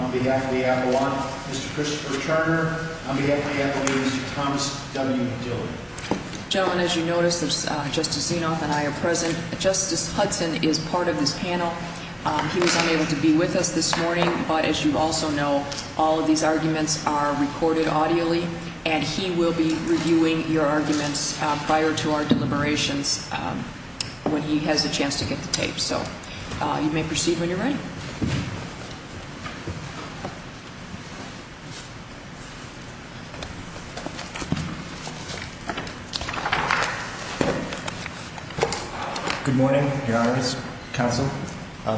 on behalf of the Avalon, Mr. Christopher Turner, on behalf of the Avalonians, Thomas W. Dillard. Gentlemen, as you notice, Justice Zinoff and I are present. Justice Hudson is part of this panel. He was unable to be with us this morning, but as you also know, all of these arguments are recorded audially, and he will be reviewing your arguments prior to our deliberations when he has a chance to get the tape. So you may proceed when you're ready. Good morning, Your Honors, Counsel.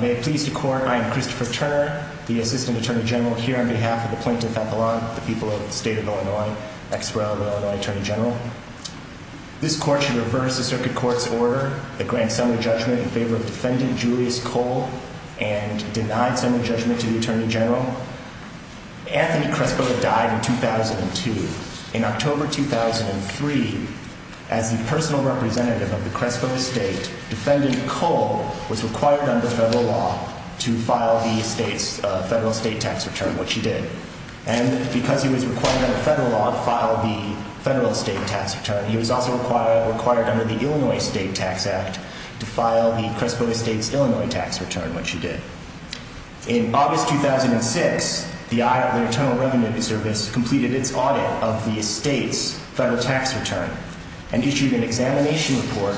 May it please the Court, I am Christopher Turner, the Assistant Attorney General here on behalf of the plaintiff, Avalon, the people of the state of Illinois, ex rel. Illinois Attorney General. This Court should reverse the Circuit Court's order that grants summary judgment in favor of Defendant Julius Kole and denied summary judgment to the Attorney General. Anthony Crespo died in 2002. In October 2003, as the personal representative of the Crespo estate, Defendant Kole was required under federal law to file the federal estate tax return, which he did. And because he was required under federal law to file the federal estate tax return, he was also required under the Illinois State Tax Act to file the Crespo estate's Illinois tax return, which he did. In August 2006, the Internal Revenue Service completed its audit of the estate's federal tax return and issued an examination report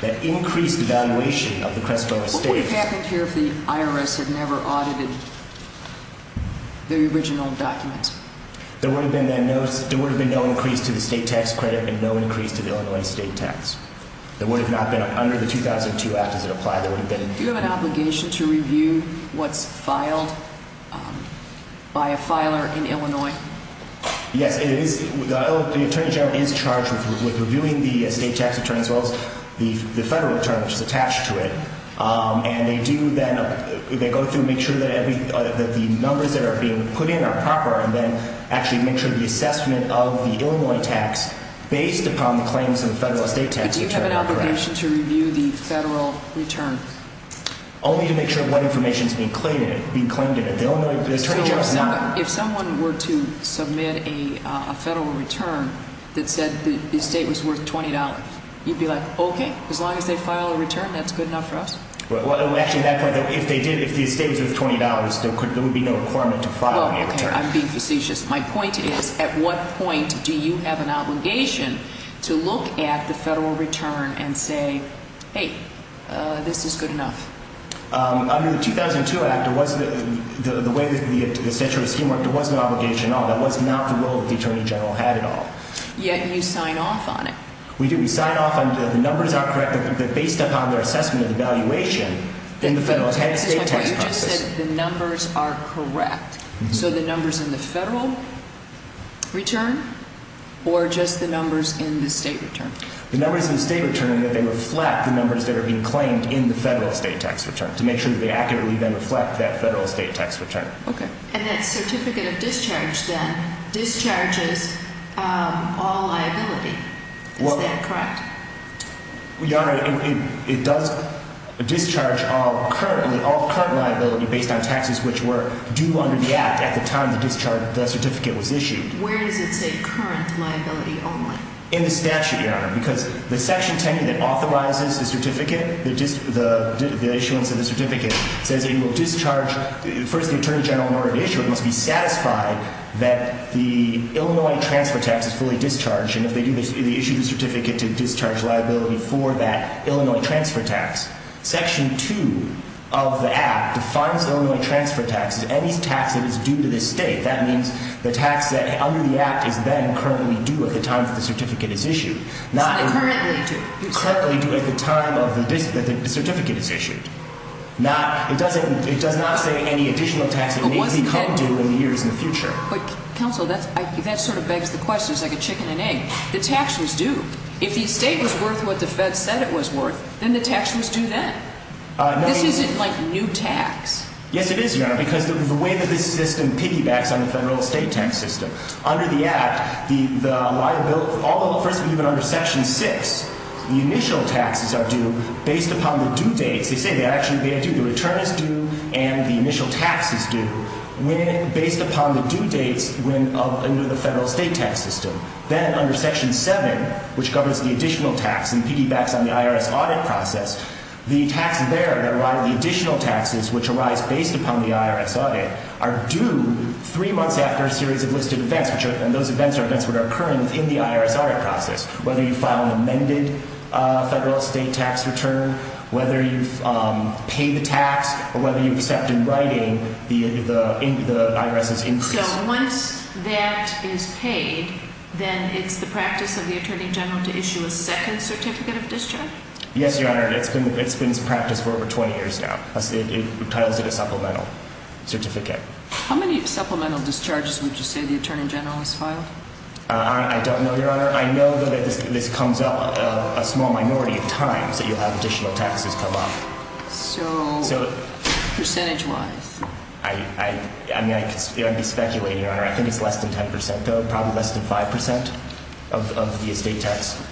that increased evaluation of the Crespo estate. What would have happened here if the IRS had never audited the original document? There would have been no increase to the state tax credit and no increase to the Illinois state tax. It would have not been under the 2002 Act as it applied. Do you have an obligation to review what's filed by a filer in Illinois? Yes, the Attorney General is charged with reviewing the state tax return as well as the federal return, which is attached to it. And they go through and make sure that the numbers that are being put in are proper and then actually make sure the assessment of the Illinois tax based upon the claims of the federal estate tax return is correct. But do you have an obligation to review the federal return? Only to make sure what information is being claimed in it. So if someone were to submit a federal return that said the estate was worth $20, you'd be like, okay, as long as they file a return, that's good enough for us? Well, actually, at that point, if the estate was worth $20, there would be no requirement to file a return. Well, okay, I'm being facetious. My point is, at what point do you have an obligation to look at the federal return and say, hey, this is good enough? Under the 2002 Act, the way the statute was schemeworked, there was no obligation at all. That was not the role that the Attorney General had at all. Yet you sign off on it. We do. We sign off on it. The numbers are correct, but based upon their assessment of the valuation in the federal estate tax process. But you just said the numbers are correct. So the numbers in the federal return or just the numbers in the state return? The numbers in the state return that they reflect the numbers that are being claimed in the federal estate tax return to make sure that they accurately then reflect that federal estate tax return. Okay. And that certificate of discharge then discharges all liability. Is that correct? Your Honor, it does discharge all current liability based on taxes which were due under the Act at the time the certificate was issued. Where does it say current liability only? In the statute, Your Honor, because the Section 10 that authorizes the issuance of the certificate says it will discharge. First, the Attorney General, in order to issue it, must be satisfied that the Illinois transfer tax is fully discharged. And if they do, they issue the certificate to discharge liability for that Illinois transfer tax. Section 2 of the Act defines Illinois transfer tax as any tax that is due to the state. That means the tax that is under the Act is then currently due at the time that the certificate is issued. It's not currently due. It's currently due at the time that the certificate is issued. It does not say any additional tax that may be due in the years in the future. But counsel, that sort of begs the question. It's like a chicken and egg. The tax was due. If the estate was worth what the Fed said it was worth, then the tax was due then. This isn't like new tax. Yes, it is, Your Honor, because of the way that this system piggybacks on the federal estate tax system. Under the Act, the liability, first of all, even under Section 6, the initial taxes are due based upon the due dates. They say they're actually due. The return is due and the initial tax is due based upon the due dates under the federal estate tax system. Then under Section 7, which governs the additional tax and piggybacks on the IRS audit process, the additional taxes which arise based upon the IRS audit are due three months after a series of listed events, and those events are events that are occurring within the IRS audit process, whether you file an amended federal estate tax return, whether you pay the tax, or whether you accept in writing the IRS's increase. So once that is paid, then it's the practice of the Attorney General to issue a second certificate of discharge? Yes, Your Honor. It's been its practice for over 20 years now. It entitles it a supplemental certificate. How many supplemental discharges would you say the Attorney General has filed? I don't know, Your Honor. I know that this comes up a small minority of times that you'll have additional taxes come up. So percentage-wise? I mean, I'd be speculating, Your Honor. I think it's less than 10 percent, though, probably less than 5 percent of the estate tax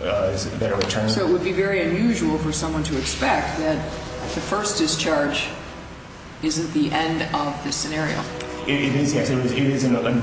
that are returned. So it would be very unusual for someone to expect that the first discharge isn't the end of the scenario. It is, yes. It is a very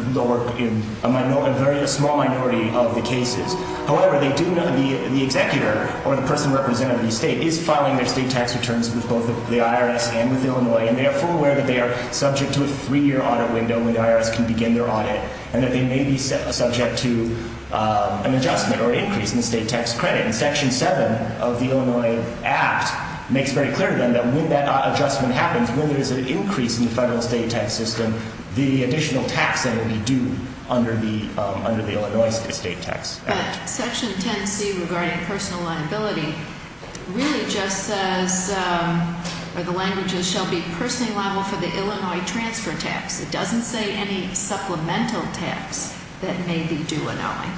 small minority of the cases. However, they do know the executor or the person representing the estate is filing their estate tax returns with both the IRS and with Illinois, and they are fully aware that they are subject to a three-year audit window when the IRS can begin their audit and that they may be subject to an adjustment or increase in the estate tax credit. And Section 7 of the Illinois Act makes very clear then that when that adjustment happens, when there is an increase in the federal estate tax system, the additional tax that will be due under the Illinois estate tax. But Section 10c regarding personal liability really just says, or the language is, shall be personally liable for the Illinois transfer tax. It doesn't say any supplemental tax that may be due annually.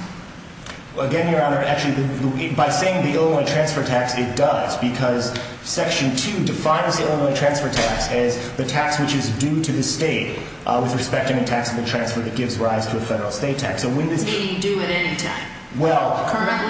Again, Your Honor, actually, by saying the Illinois transfer tax, it does because Section 2 defines the Illinois transfer tax as the tax which is due to the state with respect to the tax of the transfer that gives rise to a federal estate tax. So when does it? Being due at any time. Well,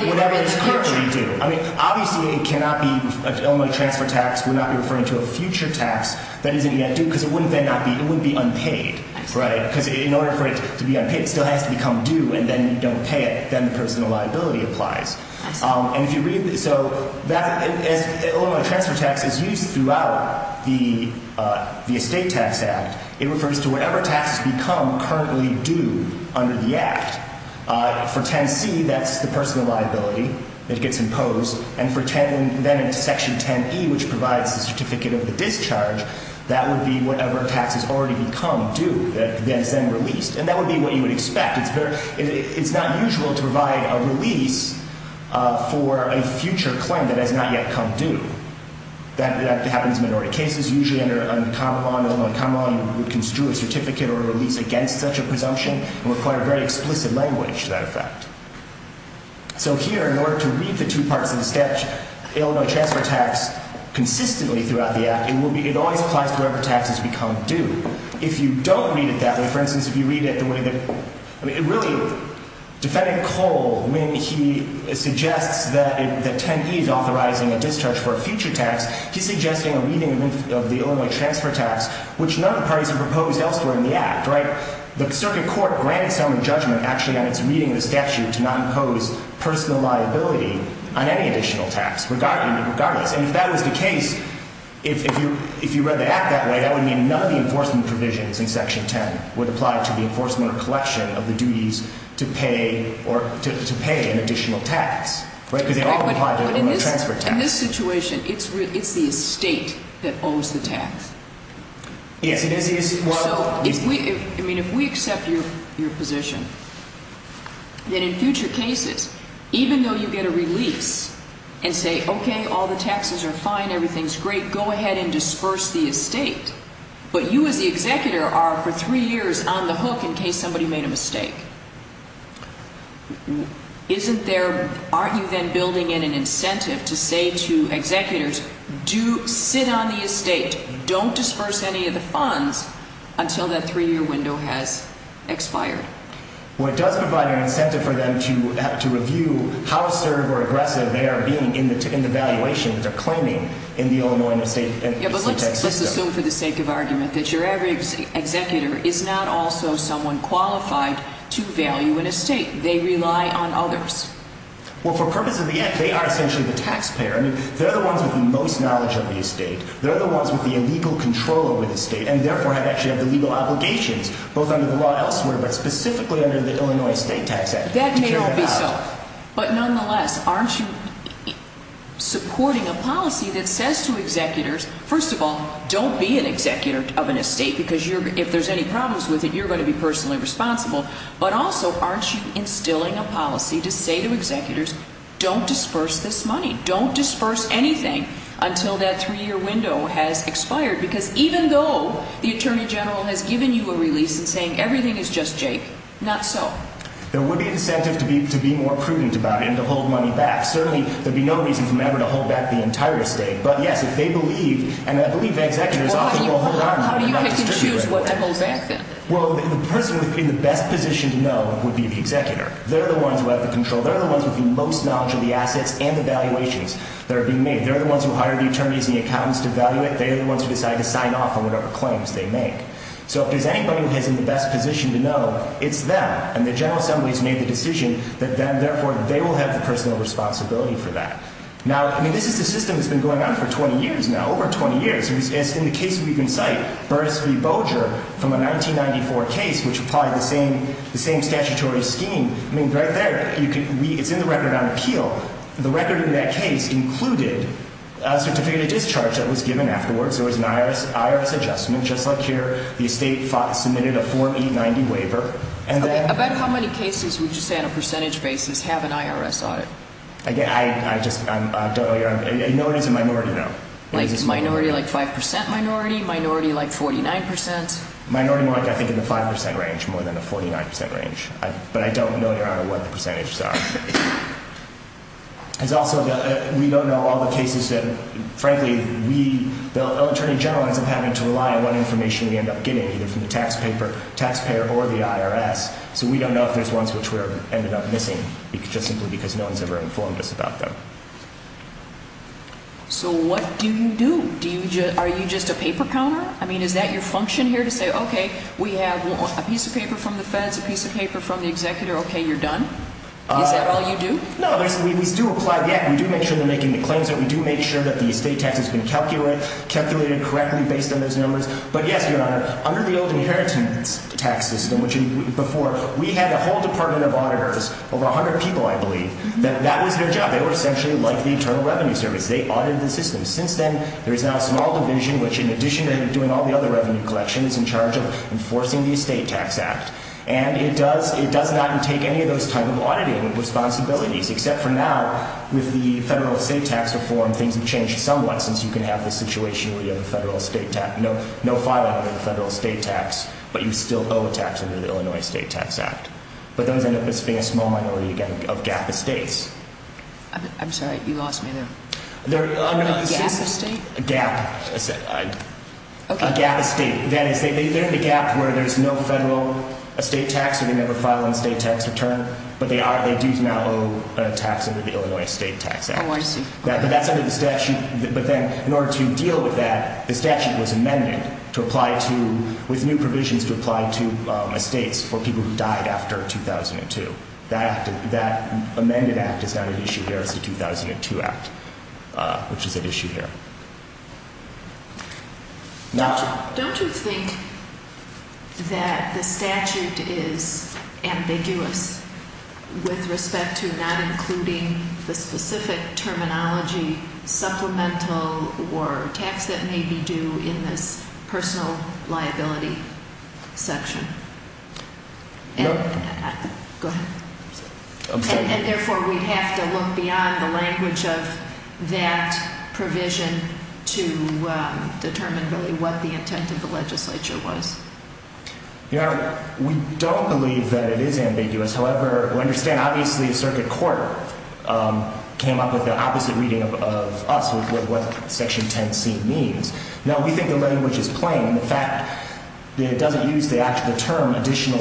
whatever is currently due. I mean, obviously, it cannot be an Illinois transfer tax. We're not referring to a future tax that isn't yet due because it wouldn't then not be. It would be unpaid, right, because in order for it to be unpaid, it still has to become due and then you don't pay it. Then the personal liability applies. And if you read this, so Illinois transfer tax is used throughout the estate tax act. It refers to whatever tax has become currently due under the act. For 10c, that's the personal liability that gets imposed. And then in Section 10e, which provides the certificate of the discharge, that would be whatever tax has already become due that is then released. And that would be what you would expect. It's not usual to provide a release for a future claim that has not yet come due. That happens in minority cases. Usually under common law, Illinois common law, you would construe a certificate or a release against such a presumption and require very explicit language to that effect. So here, in order to read the two parts of the statute, Illinois transfer tax consistently throughout the act, it always applies to whatever tax has become due. If you don't read it that way, for instance, if you read it the way that— I mean, it really—Defendant Cole, when he suggests that 10e is authorizing a discharge for a future tax, he's suggesting a reading of the Illinois transfer tax, which none of the parties have proposed elsewhere in the act, right? The circuit court granted someone judgment actually on its reading of the statute to not impose personal liability on any additional tax, regardless. And if that was the case, if you read the act that way, that would mean none of the enforcement provisions in Section 10 would apply to the enforcement or collection of the duties to pay an additional tax, right? Because they all apply to the Illinois transfer tax. But in this situation, it's the estate that owes the tax. Yes, it is what— So if we—I mean, if we accept your position, then in future cases, even though you get a release and say, okay, all the taxes are fine, everything's great, we're going to go ahead and disperse the estate, but you as the executor are for three years on the hook in case somebody made a mistake. Isn't there—aren't you then building in an incentive to say to executors, do—sit on the estate, don't disperse any of the funds until that three-year window has expired? Well, it does provide an incentive for them to review how assertive or aggressive they are being in the valuation that they're claiming in the Illinois state tax system. Yeah, but let's assume for the sake of argument that your average executor is not also someone qualified to value an estate. They rely on others. Well, for purpose of the act, they are essentially the taxpayer. I mean, they're the ones with the most knowledge of the estate. They're the ones with the illegal control over the estate, and therefore have actually had the legal obligations, both under the law elsewhere but specifically under the Illinois State Tax Act. But nonetheless, aren't you supporting a policy that says to executors, first of all, don't be an executor of an estate because you're— if there's any problems with it, you're going to be personally responsible. But also, aren't you instilling a policy to say to executors, don't disperse this money, don't disperse anything until that three-year window has expired? Because even though the attorney general has given you a release and saying everything is just jank, not so. There would be incentive to be more prudent about it and to hold money back. Certainly, there'd be no reason for them ever to hold back the entire estate. But yes, if they believe, and I believe that executors often will hold on to it. How do you pick and choose what to hold back, then? Well, the person in the best position to know would be the executor. They're the ones who have the control. They're the ones with the most knowledge of the assets and the valuations that are being made. They're the ones who hire the attorneys and the accountants to value it. They're the ones who decide to sign off on whatever claims they make. So if there's anybody who is in the best position to know, it's them. And the General Assembly has made the decision that then, therefore, they will have the personal responsibility for that. Now, I mean, this is a system that's been going on for 20 years now, over 20 years. As in the case we can cite, Burris v. Boger from a 1994 case, which applied the same statutory scheme. I mean, right there, it's in the record on appeal. The record in that case included a certificate of discharge that was given afterwards. There was an IRS adjustment, just like here. The estate submitted a 4890 waiver. About how many cases would you say, on a percentage basis, have an IRS audit? Again, I just don't know. I know it is a minority, though. Minority, like 5% minority? Minority, like 49%? Minority, more like I think in the 5% range, more than the 49% range. But I don't know, Your Honor, what the percentages are. It's also that we don't know all the cases that, frankly, we, the Attorney General, ends up having to rely on what information we end up getting, either from the taxpayer or the IRS. So we don't know if there's ones which we ended up missing, just simply because no one's ever informed us about them. So what do you do? Are you just a paper counter? I mean, is that your function here, to say, okay, we have a piece of paper from the feds, a piece of paper from the executor, okay, you're done? Is that all you do? No, we do apply, yeah, we do make sure they're making the claims, and we do make sure that the estate tax has been calculated correctly based on those numbers. But yes, Your Honor, under the old inheritance tax system, which before, we had a whole department of auditors, over 100 people, I believe, that was their job. They were essentially like the Internal Revenue Service. They audited the system. Since then, there's now a small division, which in addition to doing all the other revenue collections, is in charge of enforcing the Estate Tax Act. And it does not take any of those type of auditing responsibilities, except for now, with the federal estate tax reform, things have changed somewhat, since you can have the situation where you have no filing under the federal estate tax, but you still owe a tax under the Illinois Estate Tax Act. But those end up as being a small minority of gap estates. I'm sorry, you lost me there. A gap estate? A gap estate. That is, they're in the gap where there's no federal estate tax, where they never file an estate tax return, but they do now owe a tax under the Illinois Estate Tax Act. Oh, I see. But that's under the statute. But then, in order to deal with that, the statute was amended to apply to, with new provisions to apply to estates for people who died after 2002. That amended act is not an issue here. It's the 2002 Act, which is at issue here. Now, don't you think that the statute is ambiguous with respect to not including the specific terminology, supplemental or tax that may be due in this personal liability section? No. Go ahead. I'm sorry. We don't believe that it is ambiguous. However, we understand, obviously, the circuit court came up with the opposite reading of us with what Section 10c means. Now, we think the language is plain. In fact, it doesn't use the term additional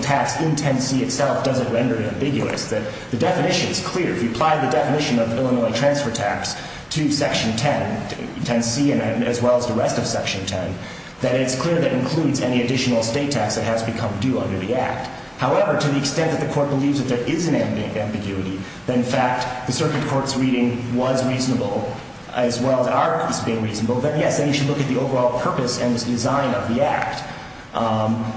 tax in 10c itself doesn't render it ambiguous. The definition is clear. If you apply the definition of Illinois transfer tax to Section 10c, as well as the rest of Section 10, then it's clear that it includes any additional estate tax that has become due under the act. However, to the extent that the court believes that there is an ambiguity, that, in fact, the circuit court's reading was reasonable, as well as ours being reasonable, then, yes, you should look at the overall purpose and design of the act.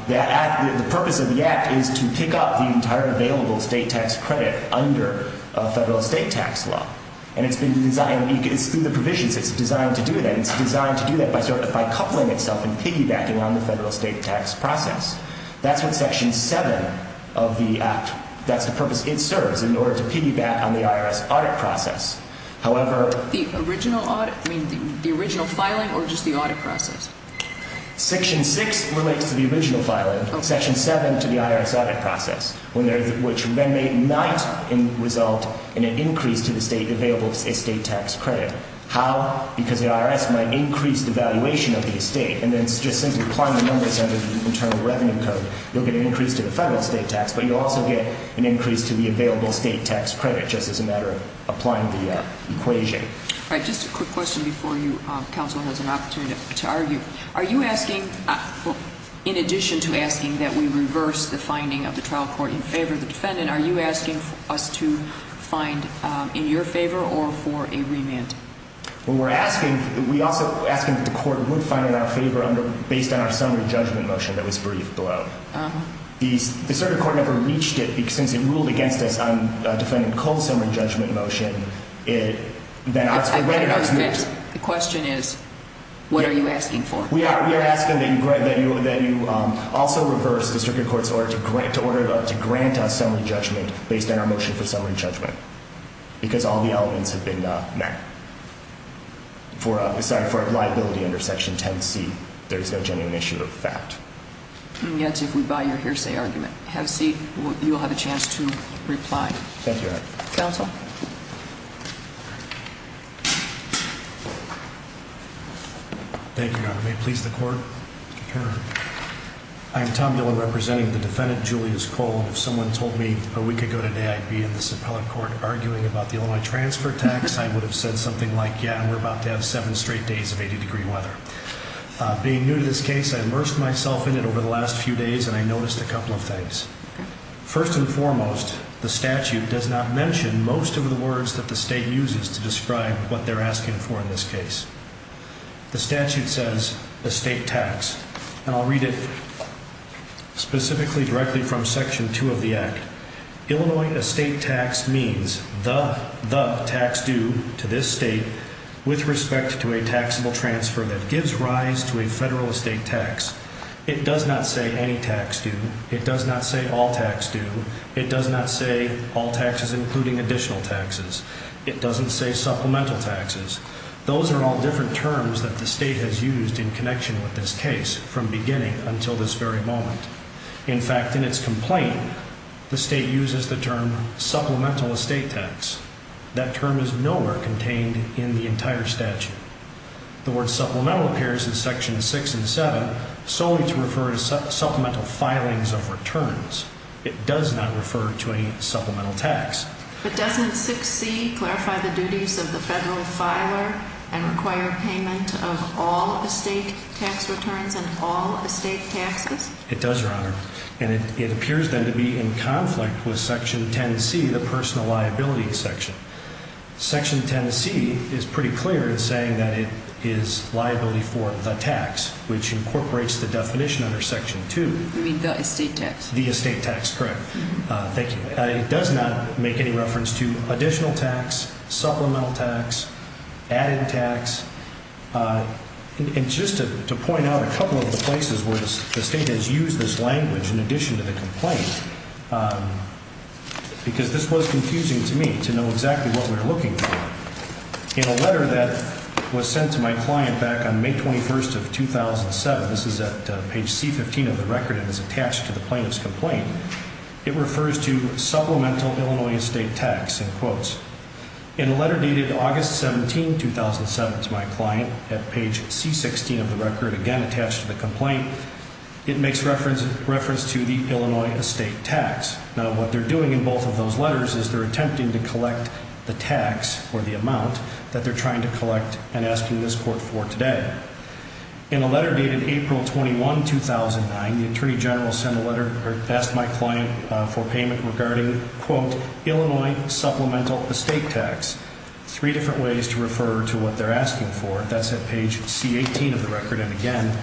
The purpose of the act is to pick up the entire available estate tax credit under federal estate tax law. And it's been designed through the provisions. It's designed to do that. It's designed to do that by coupling itself and piggybacking on the federal estate tax process. That's what Section 7 of the act, that's the purpose it serves, in order to piggyback on the IRS audit process. However, The original filing or just the audit process? Section 6 relates to the original filing. Section 7 to the IRS audit process, which then may not result in an increase to the state available estate tax credit. How? Because the IRS might increase the valuation of the estate. And then just simply applying the numbers under the Internal Revenue Code, you'll get an increase to the federal estate tax, but you'll also get an increase to the available estate tax credit just as a matter of applying the equation. All right. Just a quick question before you. Counsel has an opportunity to argue. Are you asking, in addition to asking that we reverse the finding of the trial court in favor of the defendant, are you asking us to find in your favor or for a remand? Well, we're asking. We're also asking that the court would find in our favor based on our summary judgment motion that was briefed below. The circuit court never reached it since it ruled against us on defendant cold summary judgment motion. The question is, what are you asking for? We are asking that you also reverse the circuit court's order to grant us summary judgment based on our motion for summary judgment. Because all the elements have been met. For liability under Section 10C, there is no genuine issue of fact. And yet, if we buy your hearsay argument, have a seat. You'll have a chance to reply. Thank you, Your Honor. Counsel? Thank you, Your Honor. May it please the court? Your Honor. I'm Tom Diller, representing the defendant, Julius Cole. If someone told me a week ago today I'd be in this appellate court arguing about the Illinois transfer tax, I would have said something like, yeah, we're about to have seven straight days of 80-degree weather. Being new to this case, I immersed myself in it over the last few days and I noticed a couple of things. First and foremost, the statute does not mention most of the words that the state uses to describe what they're asking for in this case. The statute says, estate tax. And I'll read it specifically directly from Section 2 of the Act. Illinois estate tax means the, the tax due to this state with respect to a taxable transfer that gives rise to a federal estate tax. It does not say any tax due. It does not say all tax due. It does not say all taxes including additional taxes. It doesn't say supplemental taxes. Those are all different terms that the state has used in connection with this case from beginning until this very moment. In fact, in its complaint, the state uses the term supplemental estate tax. That term is nowhere contained in the entire statute. The word supplemental appears in Section 6 and 7 solely to refer to supplemental filings of returns. It does not refer to any supplemental tax. But doesn't 6C clarify the duties of the federal filer and require payment of all estate tax returns and all estate taxes? It does, Your Honor. And it appears then to be in conflict with Section 10C, the personal liability section. Section 10C is pretty clear in saying that it is liability for the tax, which incorporates the definition under Section 2. You mean the estate tax? The estate tax, correct. Thank you. It does not make any reference to additional tax, supplemental tax, added tax. And just to point out a couple of the places where the state has used this language in addition to the complaint, because this was confusing to me to know exactly what we were looking for. In a letter that was sent to my client back on May 21st of 2007, this is at page C-15 of the record, and it's attached to the plaintiff's complaint, it refers to supplemental Illinois estate tax in quotes. In a letter dated August 17, 2007 to my client at page C-16 of the record, again attached to the complaint, it makes reference to the Illinois estate tax. Now, what they're doing in both of those letters is they're attempting to collect the tax, or the amount, that they're trying to collect and asking this court for today. In a letter dated April 21, 2009, the Attorney General sent a letter, or asked my client for payment, regarding, quote, Illinois supplemental estate tax. Three different ways to refer to what they're asking for. That's at page C-18 of the record, and again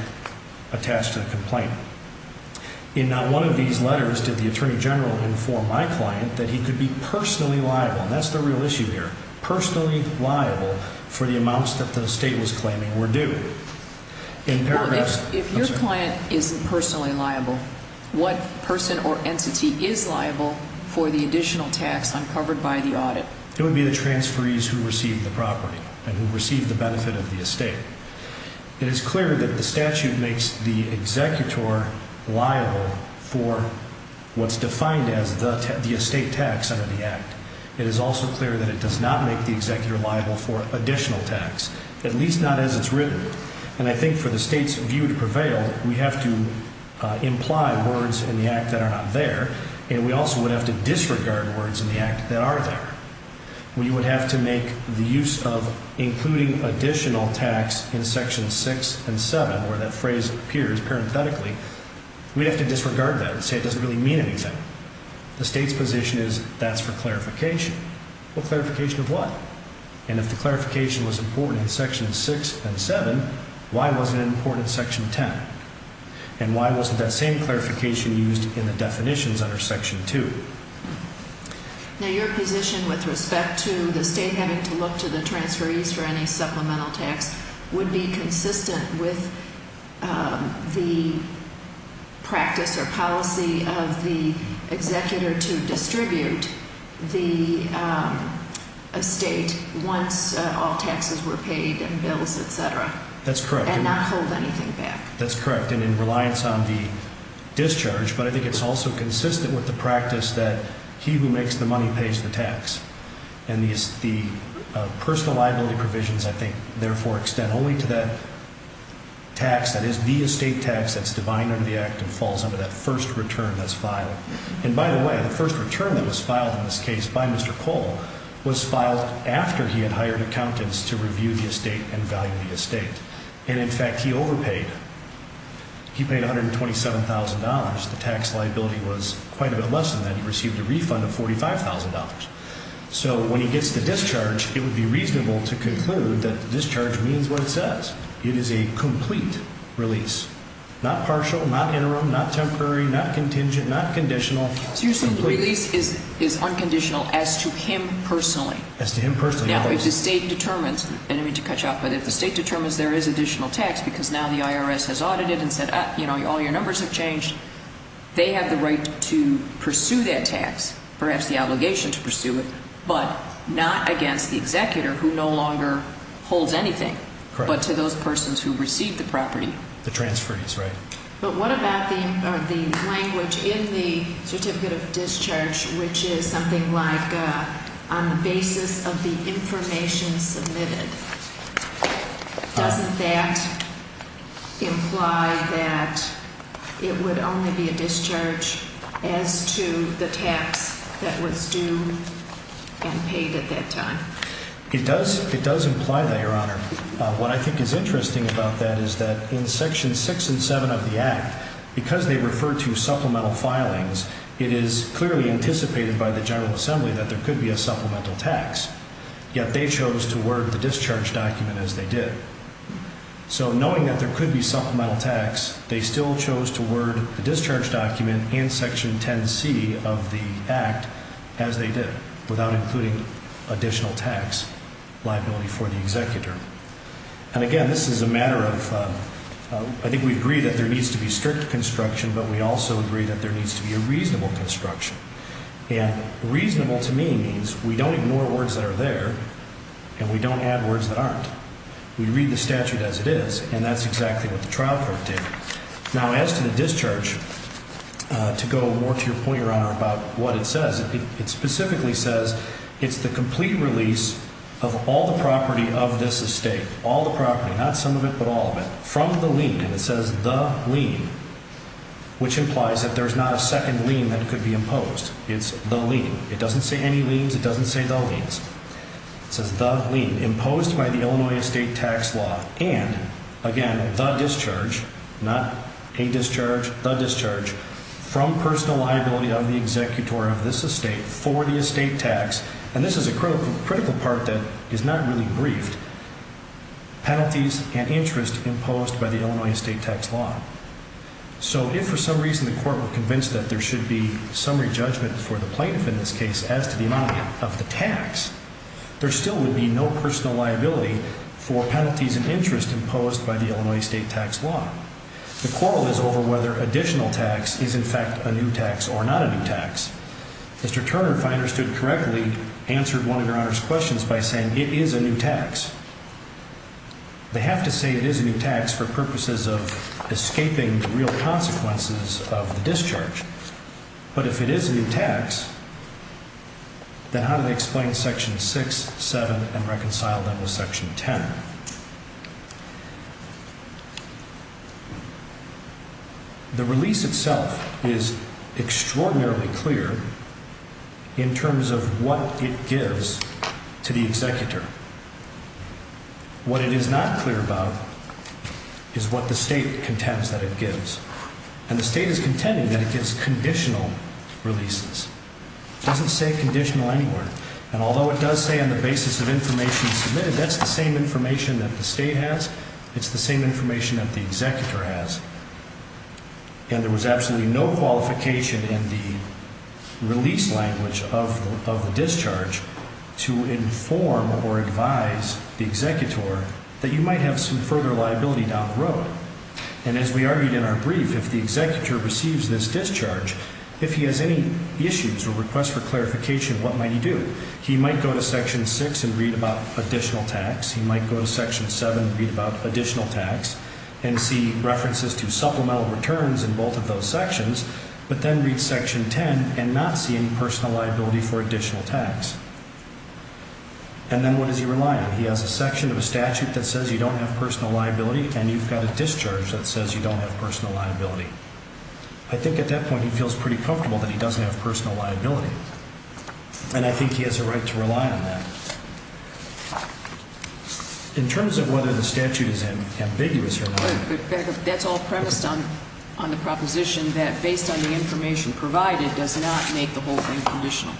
attached to the complaint. In not one of these letters did the Attorney General inform my client that he could be personally liable, and that's the real issue here, personally liable for the amounts that the state was claiming were due. If your client isn't personally liable, what person or entity is liable for the additional tax uncovered by the audit? It would be the transferees who received the property and who received the benefit of the estate. It is clear that the statute makes the executor liable for what's defined as the estate tax under the Act. It is also clear that it does not make the executor liable for additional tax, at least not as it's written. And I think for the state's view to prevail, we have to imply words in the Act that are not there, and we also would have to disregard words in the Act that are there. We would have to make the use of including additional tax in sections six and seven, where that phrase appears parenthetically, we'd have to disregard that and say it doesn't really mean anything. The state's position is that's for clarification. Well, clarification of what? And if the clarification was important in sections six and seven, why wasn't it important in section ten? And why wasn't that same clarification used in the definitions under section two? Now, your position with respect to the state having to look to the transferees for any supplemental tax would be consistent with the practice or policy of the executor to distribute the estate once all taxes were paid and bills, et cetera. That's correct. And not hold anything back. That's correct. And in reliance on the discharge, but I think it's also consistent with the practice that he who makes the money pays the tax. And the personal liability provisions, I think, therefore extend only to that tax that is the estate tax that's defined under the Act and falls under that first return that's filed. And by the way, the first return that was filed in this case by Mr. Cole was filed after he had hired accountants to review the estate and value the estate. And in fact, he overpaid. He paid $127,000. The tax liability was quite a bit less than that. He received a refund of $45,000. So when he gets the discharge, it would be reasonable to conclude that the discharge means what it says. It is a complete release, not partial, not interim, not temporary, not contingent, not conditional. So you're saying the release is unconditional as to him personally? As to him personally, yes. I don't mean to cut you off, but if the state determines there is additional tax because now the IRS has audited and said all your numbers have changed, they have the right to pursue that tax, perhaps the obligation to pursue it, but not against the executor who no longer holds anything, but to those persons who receive the property. The transferees, right. But what about the language in the certificate of discharge, which is something like on the basis of the information submitted? Doesn't that imply that it would only be a discharge as to the tax that was due and paid at that time? It does imply that, Your Honor. What I think is interesting about that is that in Section 6 and 7 of the Act, because they refer to supplemental filings, it is clearly anticipated by the General Assembly that there could be a supplemental tax. Yet they chose to word the discharge document as they did. So knowing that there could be supplemental tax, they still chose to word the discharge document in Section 10C of the Act as they did, without including additional tax liability for the executor. And again, this is a matter of, I think we agree that there needs to be strict construction, but we also agree that there needs to be a reasonable construction. And reasonable to me means we don't ignore words that are there and we don't add words that aren't. We read the statute as it is, and that's exactly what the trial court did. Now, as to the discharge, to go more to your point, Your Honor, about what it says, it specifically says it's the complete release of all the property of this estate, all the property, not some of it, but all of it, from the lien, and it says the lien, which implies that there's not a second lien that could be imposed. It's the lien. It doesn't say any liens. It doesn't say the liens. It says the lien imposed by the Illinois estate tax law and, again, the discharge, not a discharge, the discharge, from personal liability of the executor of this estate for the estate tax, and this is a critical part that is not really briefed, penalties and interest imposed by the Illinois estate tax law. So if for some reason the court were convinced that there should be summary judgment for the plaintiff in this case as to the amount of the tax, there still would be no personal liability for penalties and interest imposed by the Illinois estate tax law. The quarrel is over whether additional tax is, in fact, a new tax or not a new tax. Mr. Turner, if I understood correctly, answered one of Your Honor's questions by saying it is a new tax. They have to say it is a new tax for purposes of escaping the real consequences of the discharge, but if it is a new tax, then how do they explain Section 6, 7, and reconcile that with Section 10? The release itself is extraordinarily clear in terms of what it gives to the executor. What it is not clear about is what the state contends that it gives, and the state is contending that it gives conditional releases. It doesn't say conditional anywhere, and although it does say on the basis of information submitted, that's the same information that the state has, it's the same information that the executor has, and there was absolutely no qualification in the release language of the discharge to inform or advise the executor And as we argued in our brief, if the executor receives this discharge, if he has any issues or requests for clarification, what might he do? He might go to Section 6 and read about additional tax. He might go to Section 7 and read about additional tax and see references to supplemental returns in both of those sections, but then read Section 10 and not see any personal liability for additional tax. And then what does he rely on? He has a section of a statute that says you don't have personal liability, and you've got a discharge that says you don't have personal liability. I think at that point he feels pretty comfortable that he doesn't have personal liability, and I think he has a right to rely on that. In terms of whether the statute is ambiguous or not... But that's all premised on the proposition that based on the information provided does not make the whole thing conditional.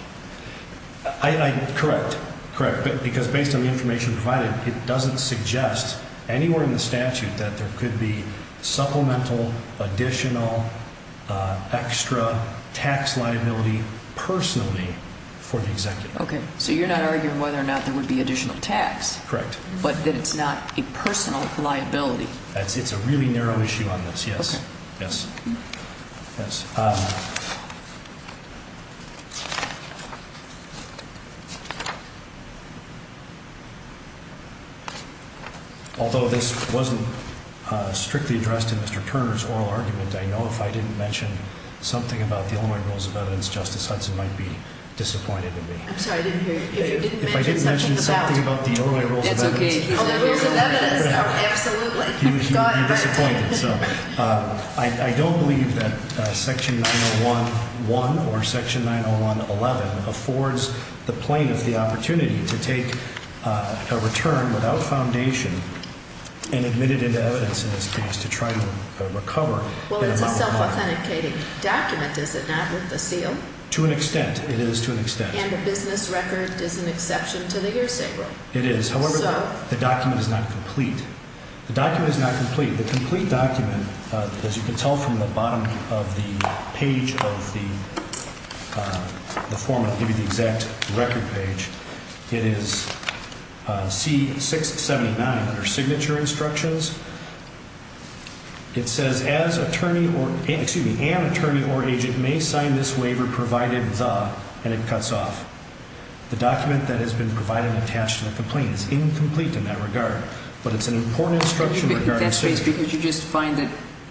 Correct. Because based on the information provided, it doesn't suggest anywhere in the statute that there could be supplemental, additional, extra tax liability personally for the executor. Okay, so you're not arguing whether or not there would be additional tax, but that it's not a personal liability. It's a really narrow issue on this, yes. Although this wasn't strictly addressed in Mr. Turner's oral argument, I know if I didn't mention something about the Illinois Rules of Evidence, Justice Hudson might be disappointed in me. I'm sorry, I didn't hear you. If you didn't mention something about... If I didn't mention something about the Illinois Rules of Evidence... It's okay. The Rules of Evidence, absolutely. He would be disappointed. I don't believe that Section 901.1 or Section 901.11 affords the plaintiff the opportunity to take a return without foundation and admit it into evidence in this case to try to recover that amount of money. Well, it's a self-authenticating document, is it not, with the seal? To an extent, it is to an extent. And the business record is an exception to the hearsay rule. It is, however, the document is not complete. The document is not complete. The complete document, as you can tell from the bottom of the page of the form, I'll give you the exact record page, it is C-679 under signature instructions. It says, an attorney or agent may sign this waiver provided the, and it cuts off. The document that has been provided attached to the complaint is incomplete in that regard, but it's an important instruction regarding signature. That's because you just find that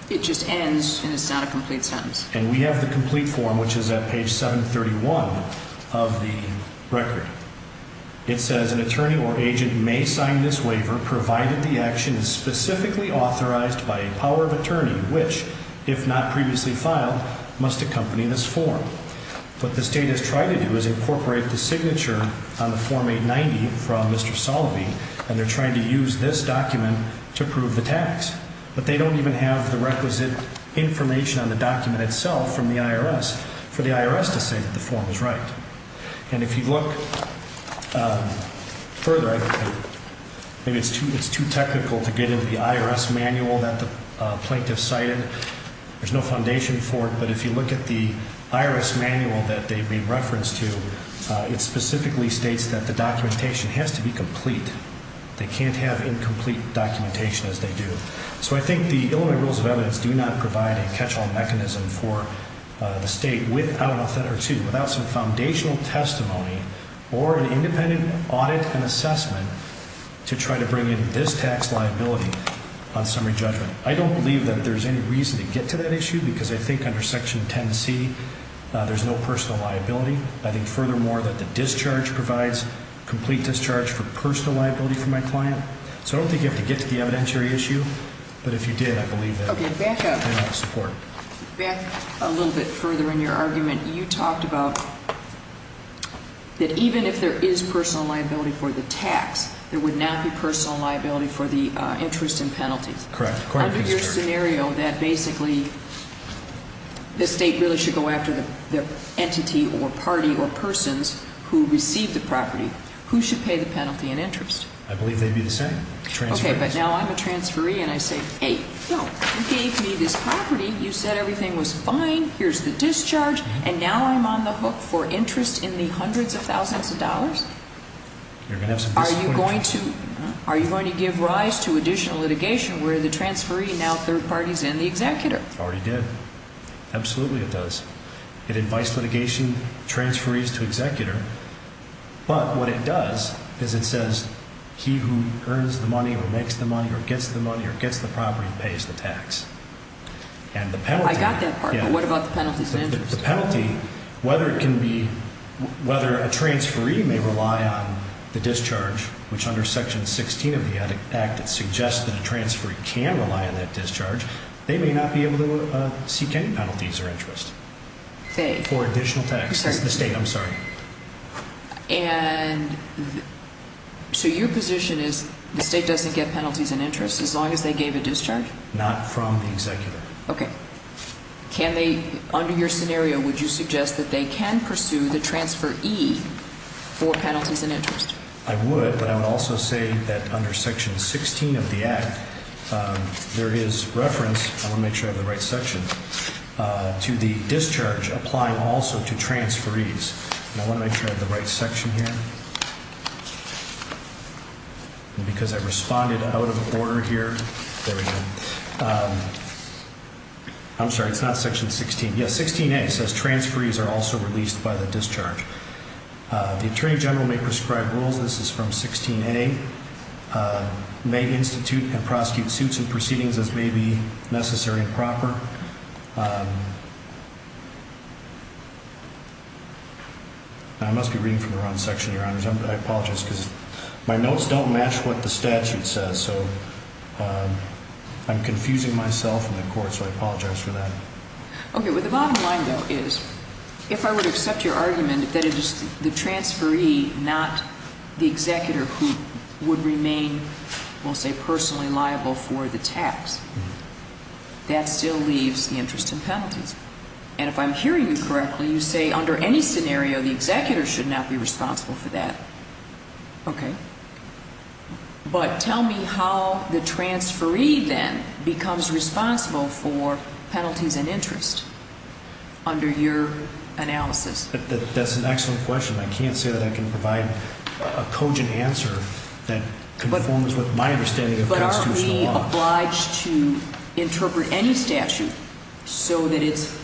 it just ends and it's not a complete sentence. And we have the complete form, which is at page 731 of the record. It says, an attorney or agent may sign this waiver provided the action is specifically authorized by a power of attorney, which, if not previously filed, must accompany this form. What the State has tried to do is incorporate the signature on the Form 890 from Mr. Salovey, and they're trying to use this document to prove the tax. But they don't even have the requisite information on the document itself from the IRS for the IRS to say that the form is right. And if you look further, maybe it's too technical to get into the IRS manual that the plaintiff cited. There's no foundation for it, but if you look at the IRS manual that they've been referenced to, it specifically states that the documentation has to be complete. They can't have incomplete documentation, as they do. So I think the Illinois Rules of Evidence do not provide a catch-all mechanism for the State without, I don't know if that hurts you, without some foundational testimony or an independent audit and assessment to try to bring in this tax liability on summary judgment. I don't believe that there's any reason to get to that issue because I think under Section 10C there's no personal liability. I think, furthermore, that the discharge provides complete discharge for personal liability for my client. So I don't think you have to get to the evidentiary issue. But if you did, I believe that would be enough support. Back a little bit further in your argument, you talked about that even if there is personal liability for the tax, there would not be personal liability for the interest and penalties. Correct. Under your scenario that basically the State really should go after the entity or party or persons who receive the property, who should pay the penalty and interest? I believe they'd be the same. Okay, but now I'm a transferee and I say, hey, you gave me this property. You said everything was fine. Here's the discharge. And now I'm on the hook for interest in the hundreds of thousands of dollars? You're going to have some disappointment. Are you going to give rise to additional litigation where the transferee now third parties in the executor? Already did. Absolutely it does. It invites litigation, transferees to executor. But what it does is it says he who earns the money or makes the money or gets the money or gets the property pays the tax. I got that part, but what about the penalties and interest? The penalty, whether it can be, whether a transferee may rely on the discharge, which under Section 16 of the Act it suggests that a transferee can rely on that discharge, they may not be able to seek any penalties or interest for additional tax. The State, I'm sorry. And so your position is the State doesn't get penalties and interest as long as they gave a discharge? Not from the executor. Okay. Can they, under your scenario, would you suggest that they can pursue the transferee for penalties and interest? I would, but I would also say that under Section 16 of the Act there is reference, I want to make sure I have the right section, to the discharge applying also to transferees. I want to make sure I have the right section here. Because I responded out of order here. There we go. I'm sorry, it's not Section 16. Yes, 16A says transferees are also released by the discharge. The Attorney General may prescribe rules. This is from 16A. May institute and prosecute suits and proceedings as may be necessary and proper. I must be reading from the wrong section, Your Honors. I apologize because my notes don't match what the statute says. I'm confusing myself and the Court, so I apologize for that. Okay. The bottom line, though, is if I would accept your argument that it is the transferee, not the executor, who would remain, we'll say, personally liable for the tax, that still leaves the interest in penalties. And if I'm hearing you correctly, you say under any scenario the executor should not be responsible for that. Okay. But tell me how the transferee, then, becomes responsible for penalties and interest under your analysis. That's an excellent question. I can't say that I can provide a cogent answer that conforms with my understanding of constitutional law. But aren't we obliged to interpret any statute so that it's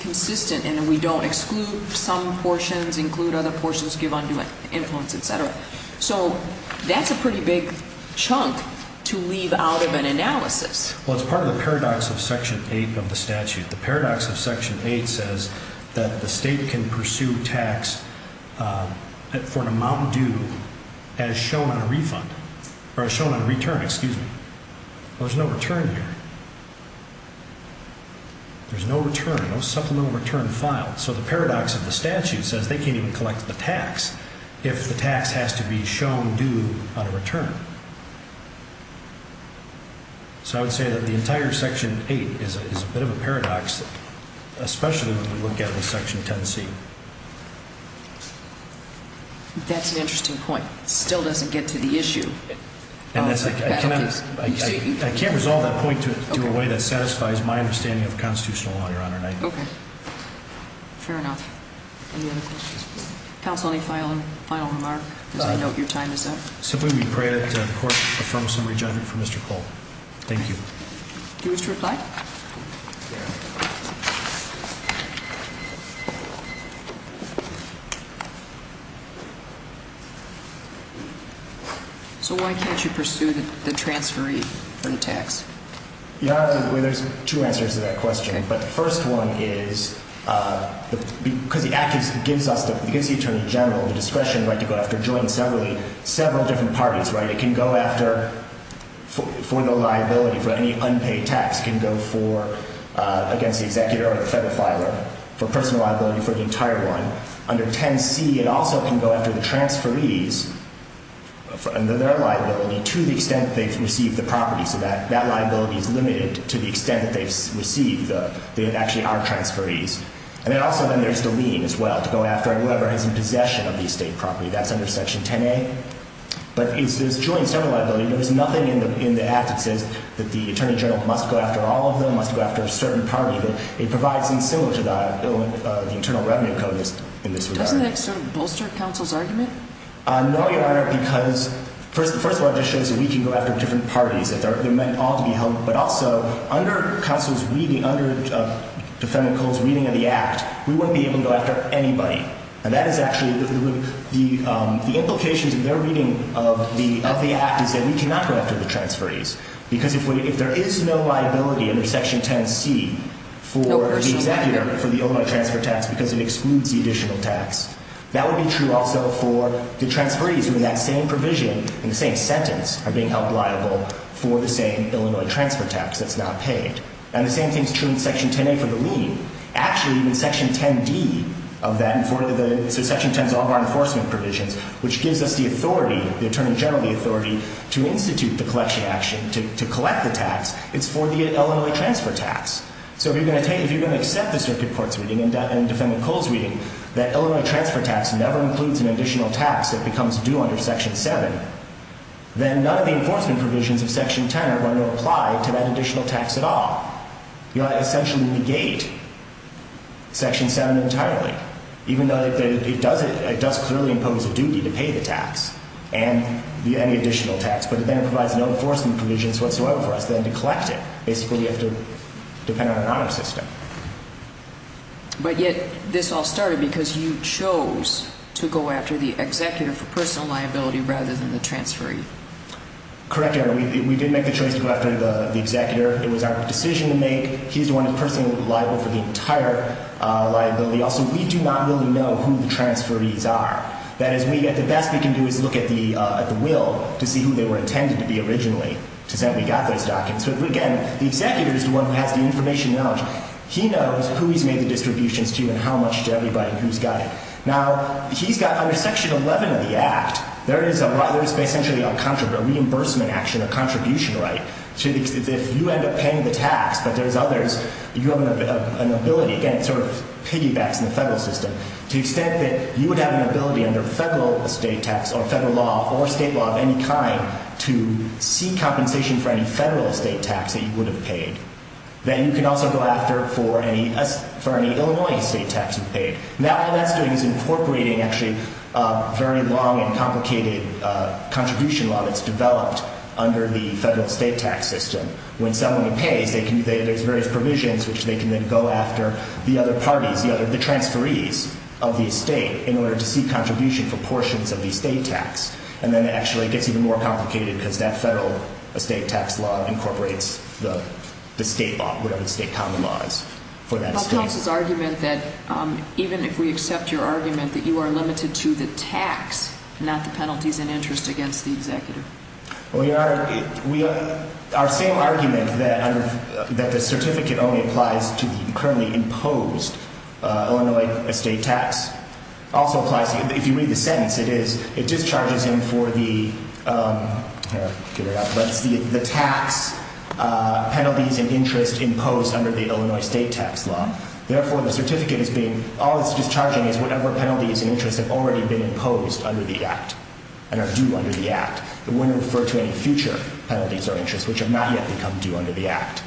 consistent and we don't exclude some portions, include other portions, give undue influence, et cetera? So that's a pretty big chunk to leave out of an analysis. Well, it's part of the paradox of Section 8 of the statute. The paradox of Section 8 says that the state can pursue tax for an amount due as shown on a refund, or as shown on a return. Excuse me. There's no return here. There's no return, no supplemental return filed. So the paradox of the statute says they can't even collect the tax if the tax has to be shown due on a return. So I would say that the entire Section 8 is a bit of a paradox, especially when we look at Section 10C. That's an interesting point. It still doesn't get to the issue. I can't resolve that point to a way that satisfies my understanding of constitutional law, Your Honor. Okay. Fair enough. Any other questions? Counsel, any final remark? I know your time is up. Simply we pray that the court affirms some re-judgment for Mr. Cole. Thank you. Do you wish to reply? Yeah. Thank you. So why can't you pursue the transferee for the tax? Your Honor, there's two answers to that question. Okay. But the first one is because the act gives the Attorney General the discretion, right, to go after and join several different parties, right? It can go after for the liability, for any unpaid tax. It can go for, against the executor or the federal filer, for personal liability for the entire one. Under 10C, it also can go after the transferees under their liability to the extent that they've received the property. So that liability is limited to the extent that they've received, that they actually are transferees. And then also then there's the lien as well to go after whoever is in possession of the estate property. That's under Section 10A. But there's joint federal liability. There's nothing in the act that says that the Attorney General must go after all of them, must go after a certain party. It provides in similar to that the Internal Revenue Code in this regard. Doesn't that sort of bolster counsel's argument? No, Your Honor, because first of all, it just shows that we can go after different parties, that they're meant all to be held. But also, under counsel's reading, under defendant Cole's reading of the act, we wouldn't be able to go after anybody. And that is actually the implications of their reading of the act is that we cannot go after the transferees. Because if there is no liability under Section 10C for the executor for the Illinois transfer tax because it excludes the additional tax, that would be true also for the transferees who in that same provision, in the same sentence, are being held liable for the same Illinois transfer tax that's not paid. And the same thing is true in Section 10A for the lien. Actually, in Section 10D of that, Section 10 is all of our enforcement provisions, which gives us the authority, the Attorney General the authority, to institute the collection action, to collect the tax. It's for the Illinois transfer tax. So if you're going to accept the Circuit Court's reading and defendant Cole's reading that Illinois transfer tax never includes an additional tax that becomes due under Section 7, then none of the enforcement provisions of Section 10 are going to apply to that additional tax at all. You essentially negate Section 7 entirely, even though it does clearly impose a duty to pay the tax and any additional tax. But then it provides no enforcement provisions whatsoever for us then to collect it. Basically, you have to depend on an honor system. But yet this all started because you chose to go after the executor for personal liability rather than the transferee. Correct, Your Honor. We did make the choice to go after the executor. It was our decision to make. He's the one who's personally liable for the entire liability. Also, we do not really know who the transferees are. That is, the best we can do is look at the will to see who they were intended to be originally to say we got those documents. But again, the executor is the one who has the information and knowledge. He knows who he's made the distributions to and how much to everybody and who's got it. Now, he's got under Section 11 of the Act, there is essentially a reimbursement action, a contribution right. If you end up paying the tax but there's others, you have an ability, again, sort of piggybacks in the federal system, to the extent that you would have an ability under federal estate tax or federal law or state law of any kind to seek compensation for any federal estate tax that you would have paid. Then you can also go after it for any Illinois estate tax you've paid. Now, all that's doing is incorporating, actually, a very long and complicated contribution law that's developed under the federal estate tax system. When someone pays, there's various provisions which they can then go after the other parties, the transferees of the estate in order to seek contribution for portions of the estate tax. And then it actually gets even more complicated because that federal estate tax law incorporates the state law, Well, tell us his argument that even if we accept your argument that you are limited to the tax, not the penalties and interest against the executive. Our same argument that the certificate only applies to the currently imposed Illinois estate tax also applies. If you read the sentence, it discharges him for the tax penalties and interest imposed under the Illinois estate tax law. Therefore, the certificate is being, all it's discharging is whatever penalties and interest have already been imposed under the act and are due under the act. It wouldn't refer to any future penalties or interest which have not yet become due under the act.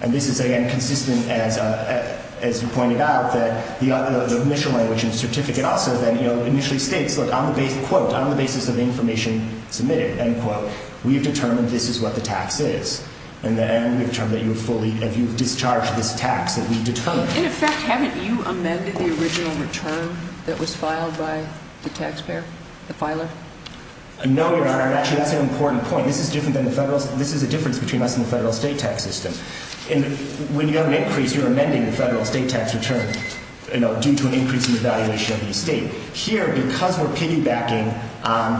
And this is, again, consistent as you pointed out that the initial language in the certificate also then, you know, initially states, Look, on the basis, quote, on the basis of the information submitted, end quote, we've determined this is what the tax is. And then we've determined that you have fully, if you've discharged this tax that we determined. In effect, haven't you amended the original return that was filed by the taxpayer, the filer? No, Your Honor. Actually, that's an important point. This is different than the federal. This is a difference between us and the federal estate tax system. And when you have an increase, you're amending the federal estate tax return, you know, due to an increase in the valuation of the estate. Here, because we're piggybacking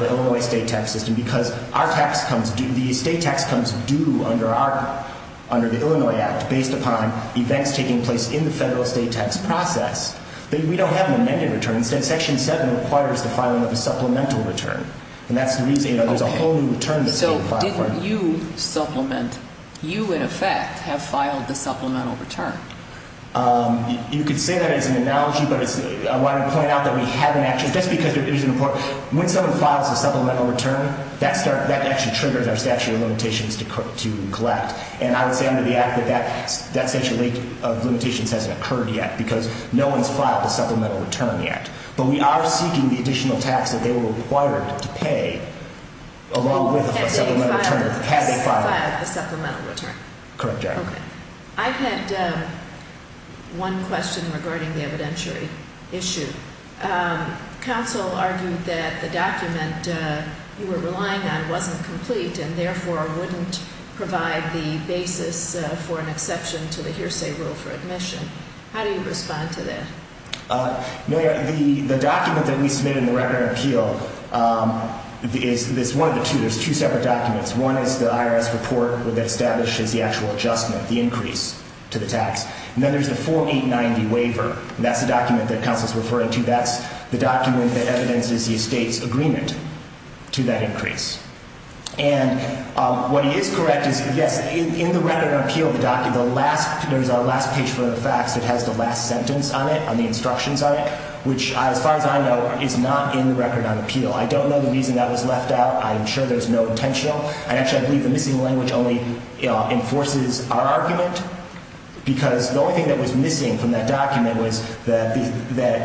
the Illinois estate tax system, because our tax comes due, the estate tax comes due under our, under the Illinois act, based upon events taking place in the federal estate tax process, we don't have an amended return. Instead, Section 7 requires the filing of a supplemental return. And that's the reason, you know, there's a whole new return that's being filed for you. So didn't you supplement, you, in effect, have filed the supplemental return? You could say that as an analogy, but I wanted to point out that we haven't actually, just because it's important. When someone files a supplemental return, that actually triggers our statute of limitations to collect. And I would say under the act that that statute of limitations hasn't occurred yet, because no one's filed a supplemental return yet. But we are seeking the additional tax that they were required to pay along with a supplemental return, had they filed it. Had they filed a supplemental return? Correct, Your Honor. Okay. I had one question regarding the evidentiary issue. Counsel argued that the document you were relying on wasn't complete, and therefore wouldn't provide the basis for an exception to the hearsay rule for admission. How do you respond to that? No, Your Honor, the document that we submitted in the Record and Appeal is one of the two. There's two separate documents. One is the IRS report that establishes the actual adjustment, the increase to the tax. And then there's the Form 890 waiver. That's the document that counsel's referring to. That's the document that evidences the estate's agreement to that increase. And what is correct is, yes, in the Record and Appeal, the document, there's a last page for the facts that has the last sentence on it, on the instructions on it, which, as far as I know, is not in the Record and Appeal. I don't know the reason that was left out. I'm sure there's no intentional. Actually, I believe the missing language only enforces our argument, because the only thing that was missing from that document was that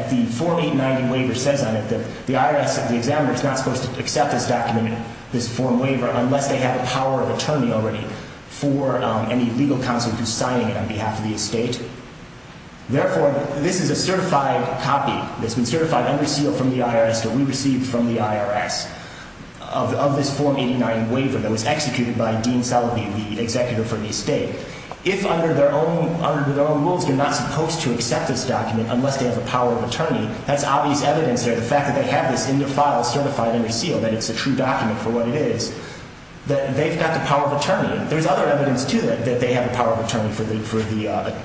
the Form 890 waiver says on it that the IRS, the examiner, is not supposed to accept this document, this form waiver, unless they have a power of attorney already for any legal counsel who's signing it on behalf of the estate. Therefore, this is a certified copy. It's been certified under seal from the IRS that we received from the IRS of this Form 890 waiver that was executed by Dean Sullivan, the executive for the estate. If, under their own rules, they're not supposed to accept this document unless they have a power of attorney, that's obvious evidence there, the fact that they have this in their file certified under seal, that it's a true document for what it is, that they've got the power of attorney. There's other evidence, too, that they have a power of attorney for the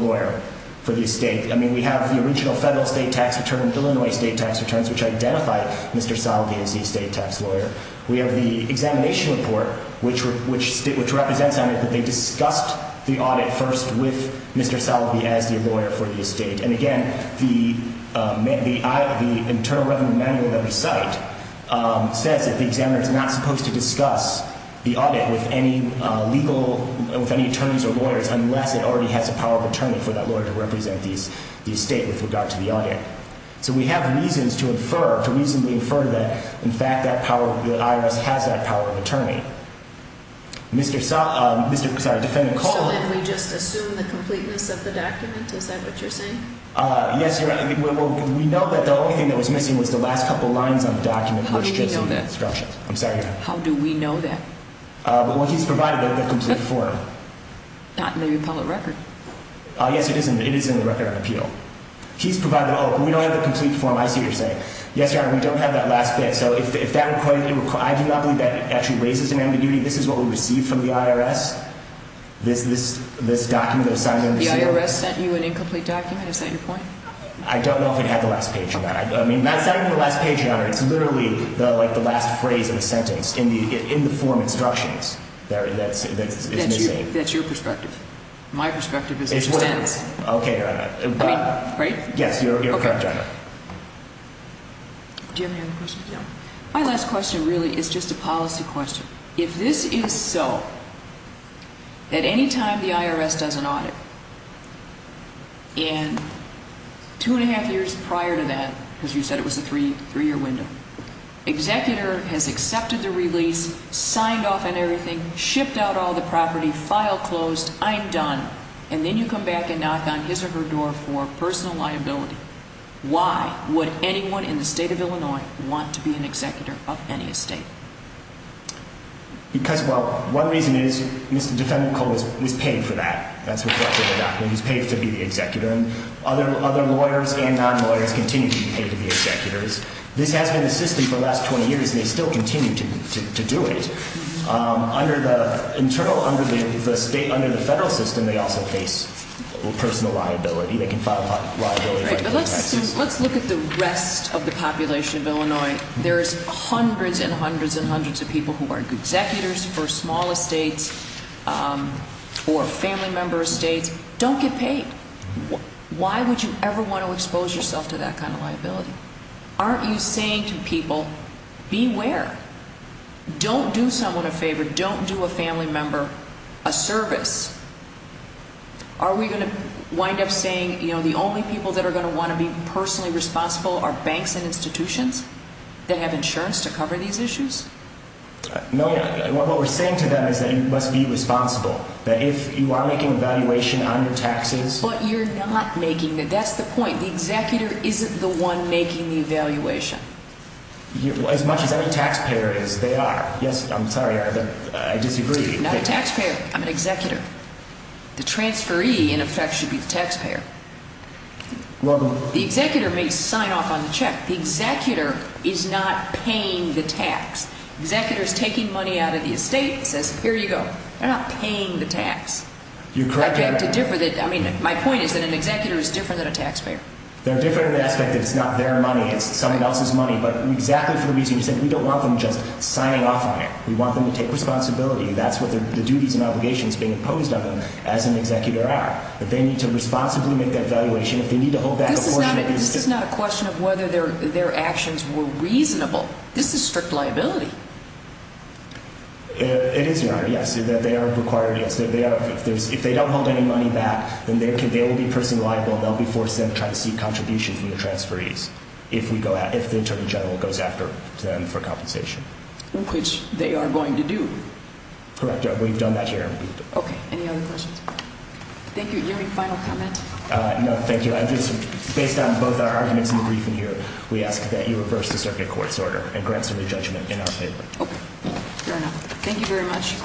lawyer for the estate. I mean, we have the original federal state tax return, Illinois state tax returns, which identify Mr. Sullivan as the estate tax lawyer. We have the examination report, which represents on it that they discussed the audit first with Mr. Sullivan as the lawyer for the estate. And, again, the Internal Revenue Manual that we cite says that the examiner is not supposed to discuss the audit with any legal – with any attorneys or lawyers unless it already has a power of attorney for that lawyer to represent the estate with regard to the audit. So we have reasons to infer – to reasonably infer that, in fact, that power – the IRS has that power of attorney. Mr. – Mr. – sorry, Defendant Coleman. Mr. Sullivan, we just assume the completeness of the document? Is that what you're saying? Yes, Your Honor. We know that the only thing that was missing was the last couple lines on the document. How do we know that? I'm sorry, Your Honor. How do we know that? Well, he's provided the complete form. Not in the appellate record. Yes, it is in the record of appeal. He's provided – oh, but we don't have the complete form, I see what you're saying. Yes, Your Honor, we don't have that last bit. Okay, so if that – I do not believe that actually raises an ambiguity. This is what we received from the IRS? This document that was signed under the seal? The IRS sent you an incomplete document? Is that your point? I don't know if it had the last page in that. I mean, that's not even the last page, Your Honor. It's literally, like, the last phrase of the sentence in the form instructions. That's – it's missing. That's your perspective. My perspective is it stands. Okay, Your Honor. I mean, right? Yes, Your Honor. Okay. Do you have any other questions, Your Honor? My last question, really, is just a policy question. If this is so, that any time the IRS does an audit, and two and a half years prior to that, because you said it was a three-year window, executor has accepted the release, signed off on everything, shipped out all the property, file closed, I'm done, and then you come back and knock on his or her door for personal liability, why would anyone in the state of Illinois want to be an executor of any estate? Because, well, one reason is Mr. Defendant Cole was paid for that. That's reflected in the document. He was paid to be the executor, and other lawyers and non-lawyers continue to be paid to be executors. This has been the system for the last 20 years, and they still continue to do it. Under the federal system, they also face personal liability. Let's look at the rest of the population of Illinois. There's hundreds and hundreds and hundreds of people who are executors for small estates or family member estates. Don't get paid. Why would you ever want to expose yourself to that kind of liability? Aren't you saying to people, beware? Don't do someone a favor. Don't do a family member a service. Are we going to wind up saying the only people that are going to want to be personally responsible are banks and institutions that have insurance to cover these issues? No. What we're saying to them is that you must be responsible, that if you are making a valuation on your taxes— But you're not making—that's the point. The executor isn't the one making the evaluation. As much as any taxpayer is, they are. Yes, I'm sorry. I disagree. I'm not a taxpayer. I'm an executor. The transferee, in effect, should be the taxpayer. Well, the— The executor may sign off on the check. The executor is not paying the tax. The executor is taking money out of the estate and says, here you go. They're not paying the tax. You're correct. I beg to differ. I mean, my point is that an executor is different than a taxpayer. They're different in the aspect that it's not their money. It's someone else's money. But exactly for the reason you said, we don't want them just signing off on it. We want them to take responsibility. That's what the duties and obligations being imposed on them as an executor are. That they need to responsibly make that valuation. If they need to hold back a portion of it— This is not a question of whether their actions were reasonable. This is strict liability. It is, Your Honor, yes. They are required, yes. They are. If they don't hold any money back, then they will be personally liable. They'll be forced then to try to seek contribution from the transferees if we go after— if the attorney general goes after them for compensation. Which they are going to do. Correct, Your Honor. We've done that here. Okay. Any other questions? Thank you. Your Honor, any final comments? No, thank you. I just—based on both our arguments in the briefing here, we ask that you reverse the circuit court's order and grant some re-judgment in our favor. Okay. Fair enough. Thank you very much.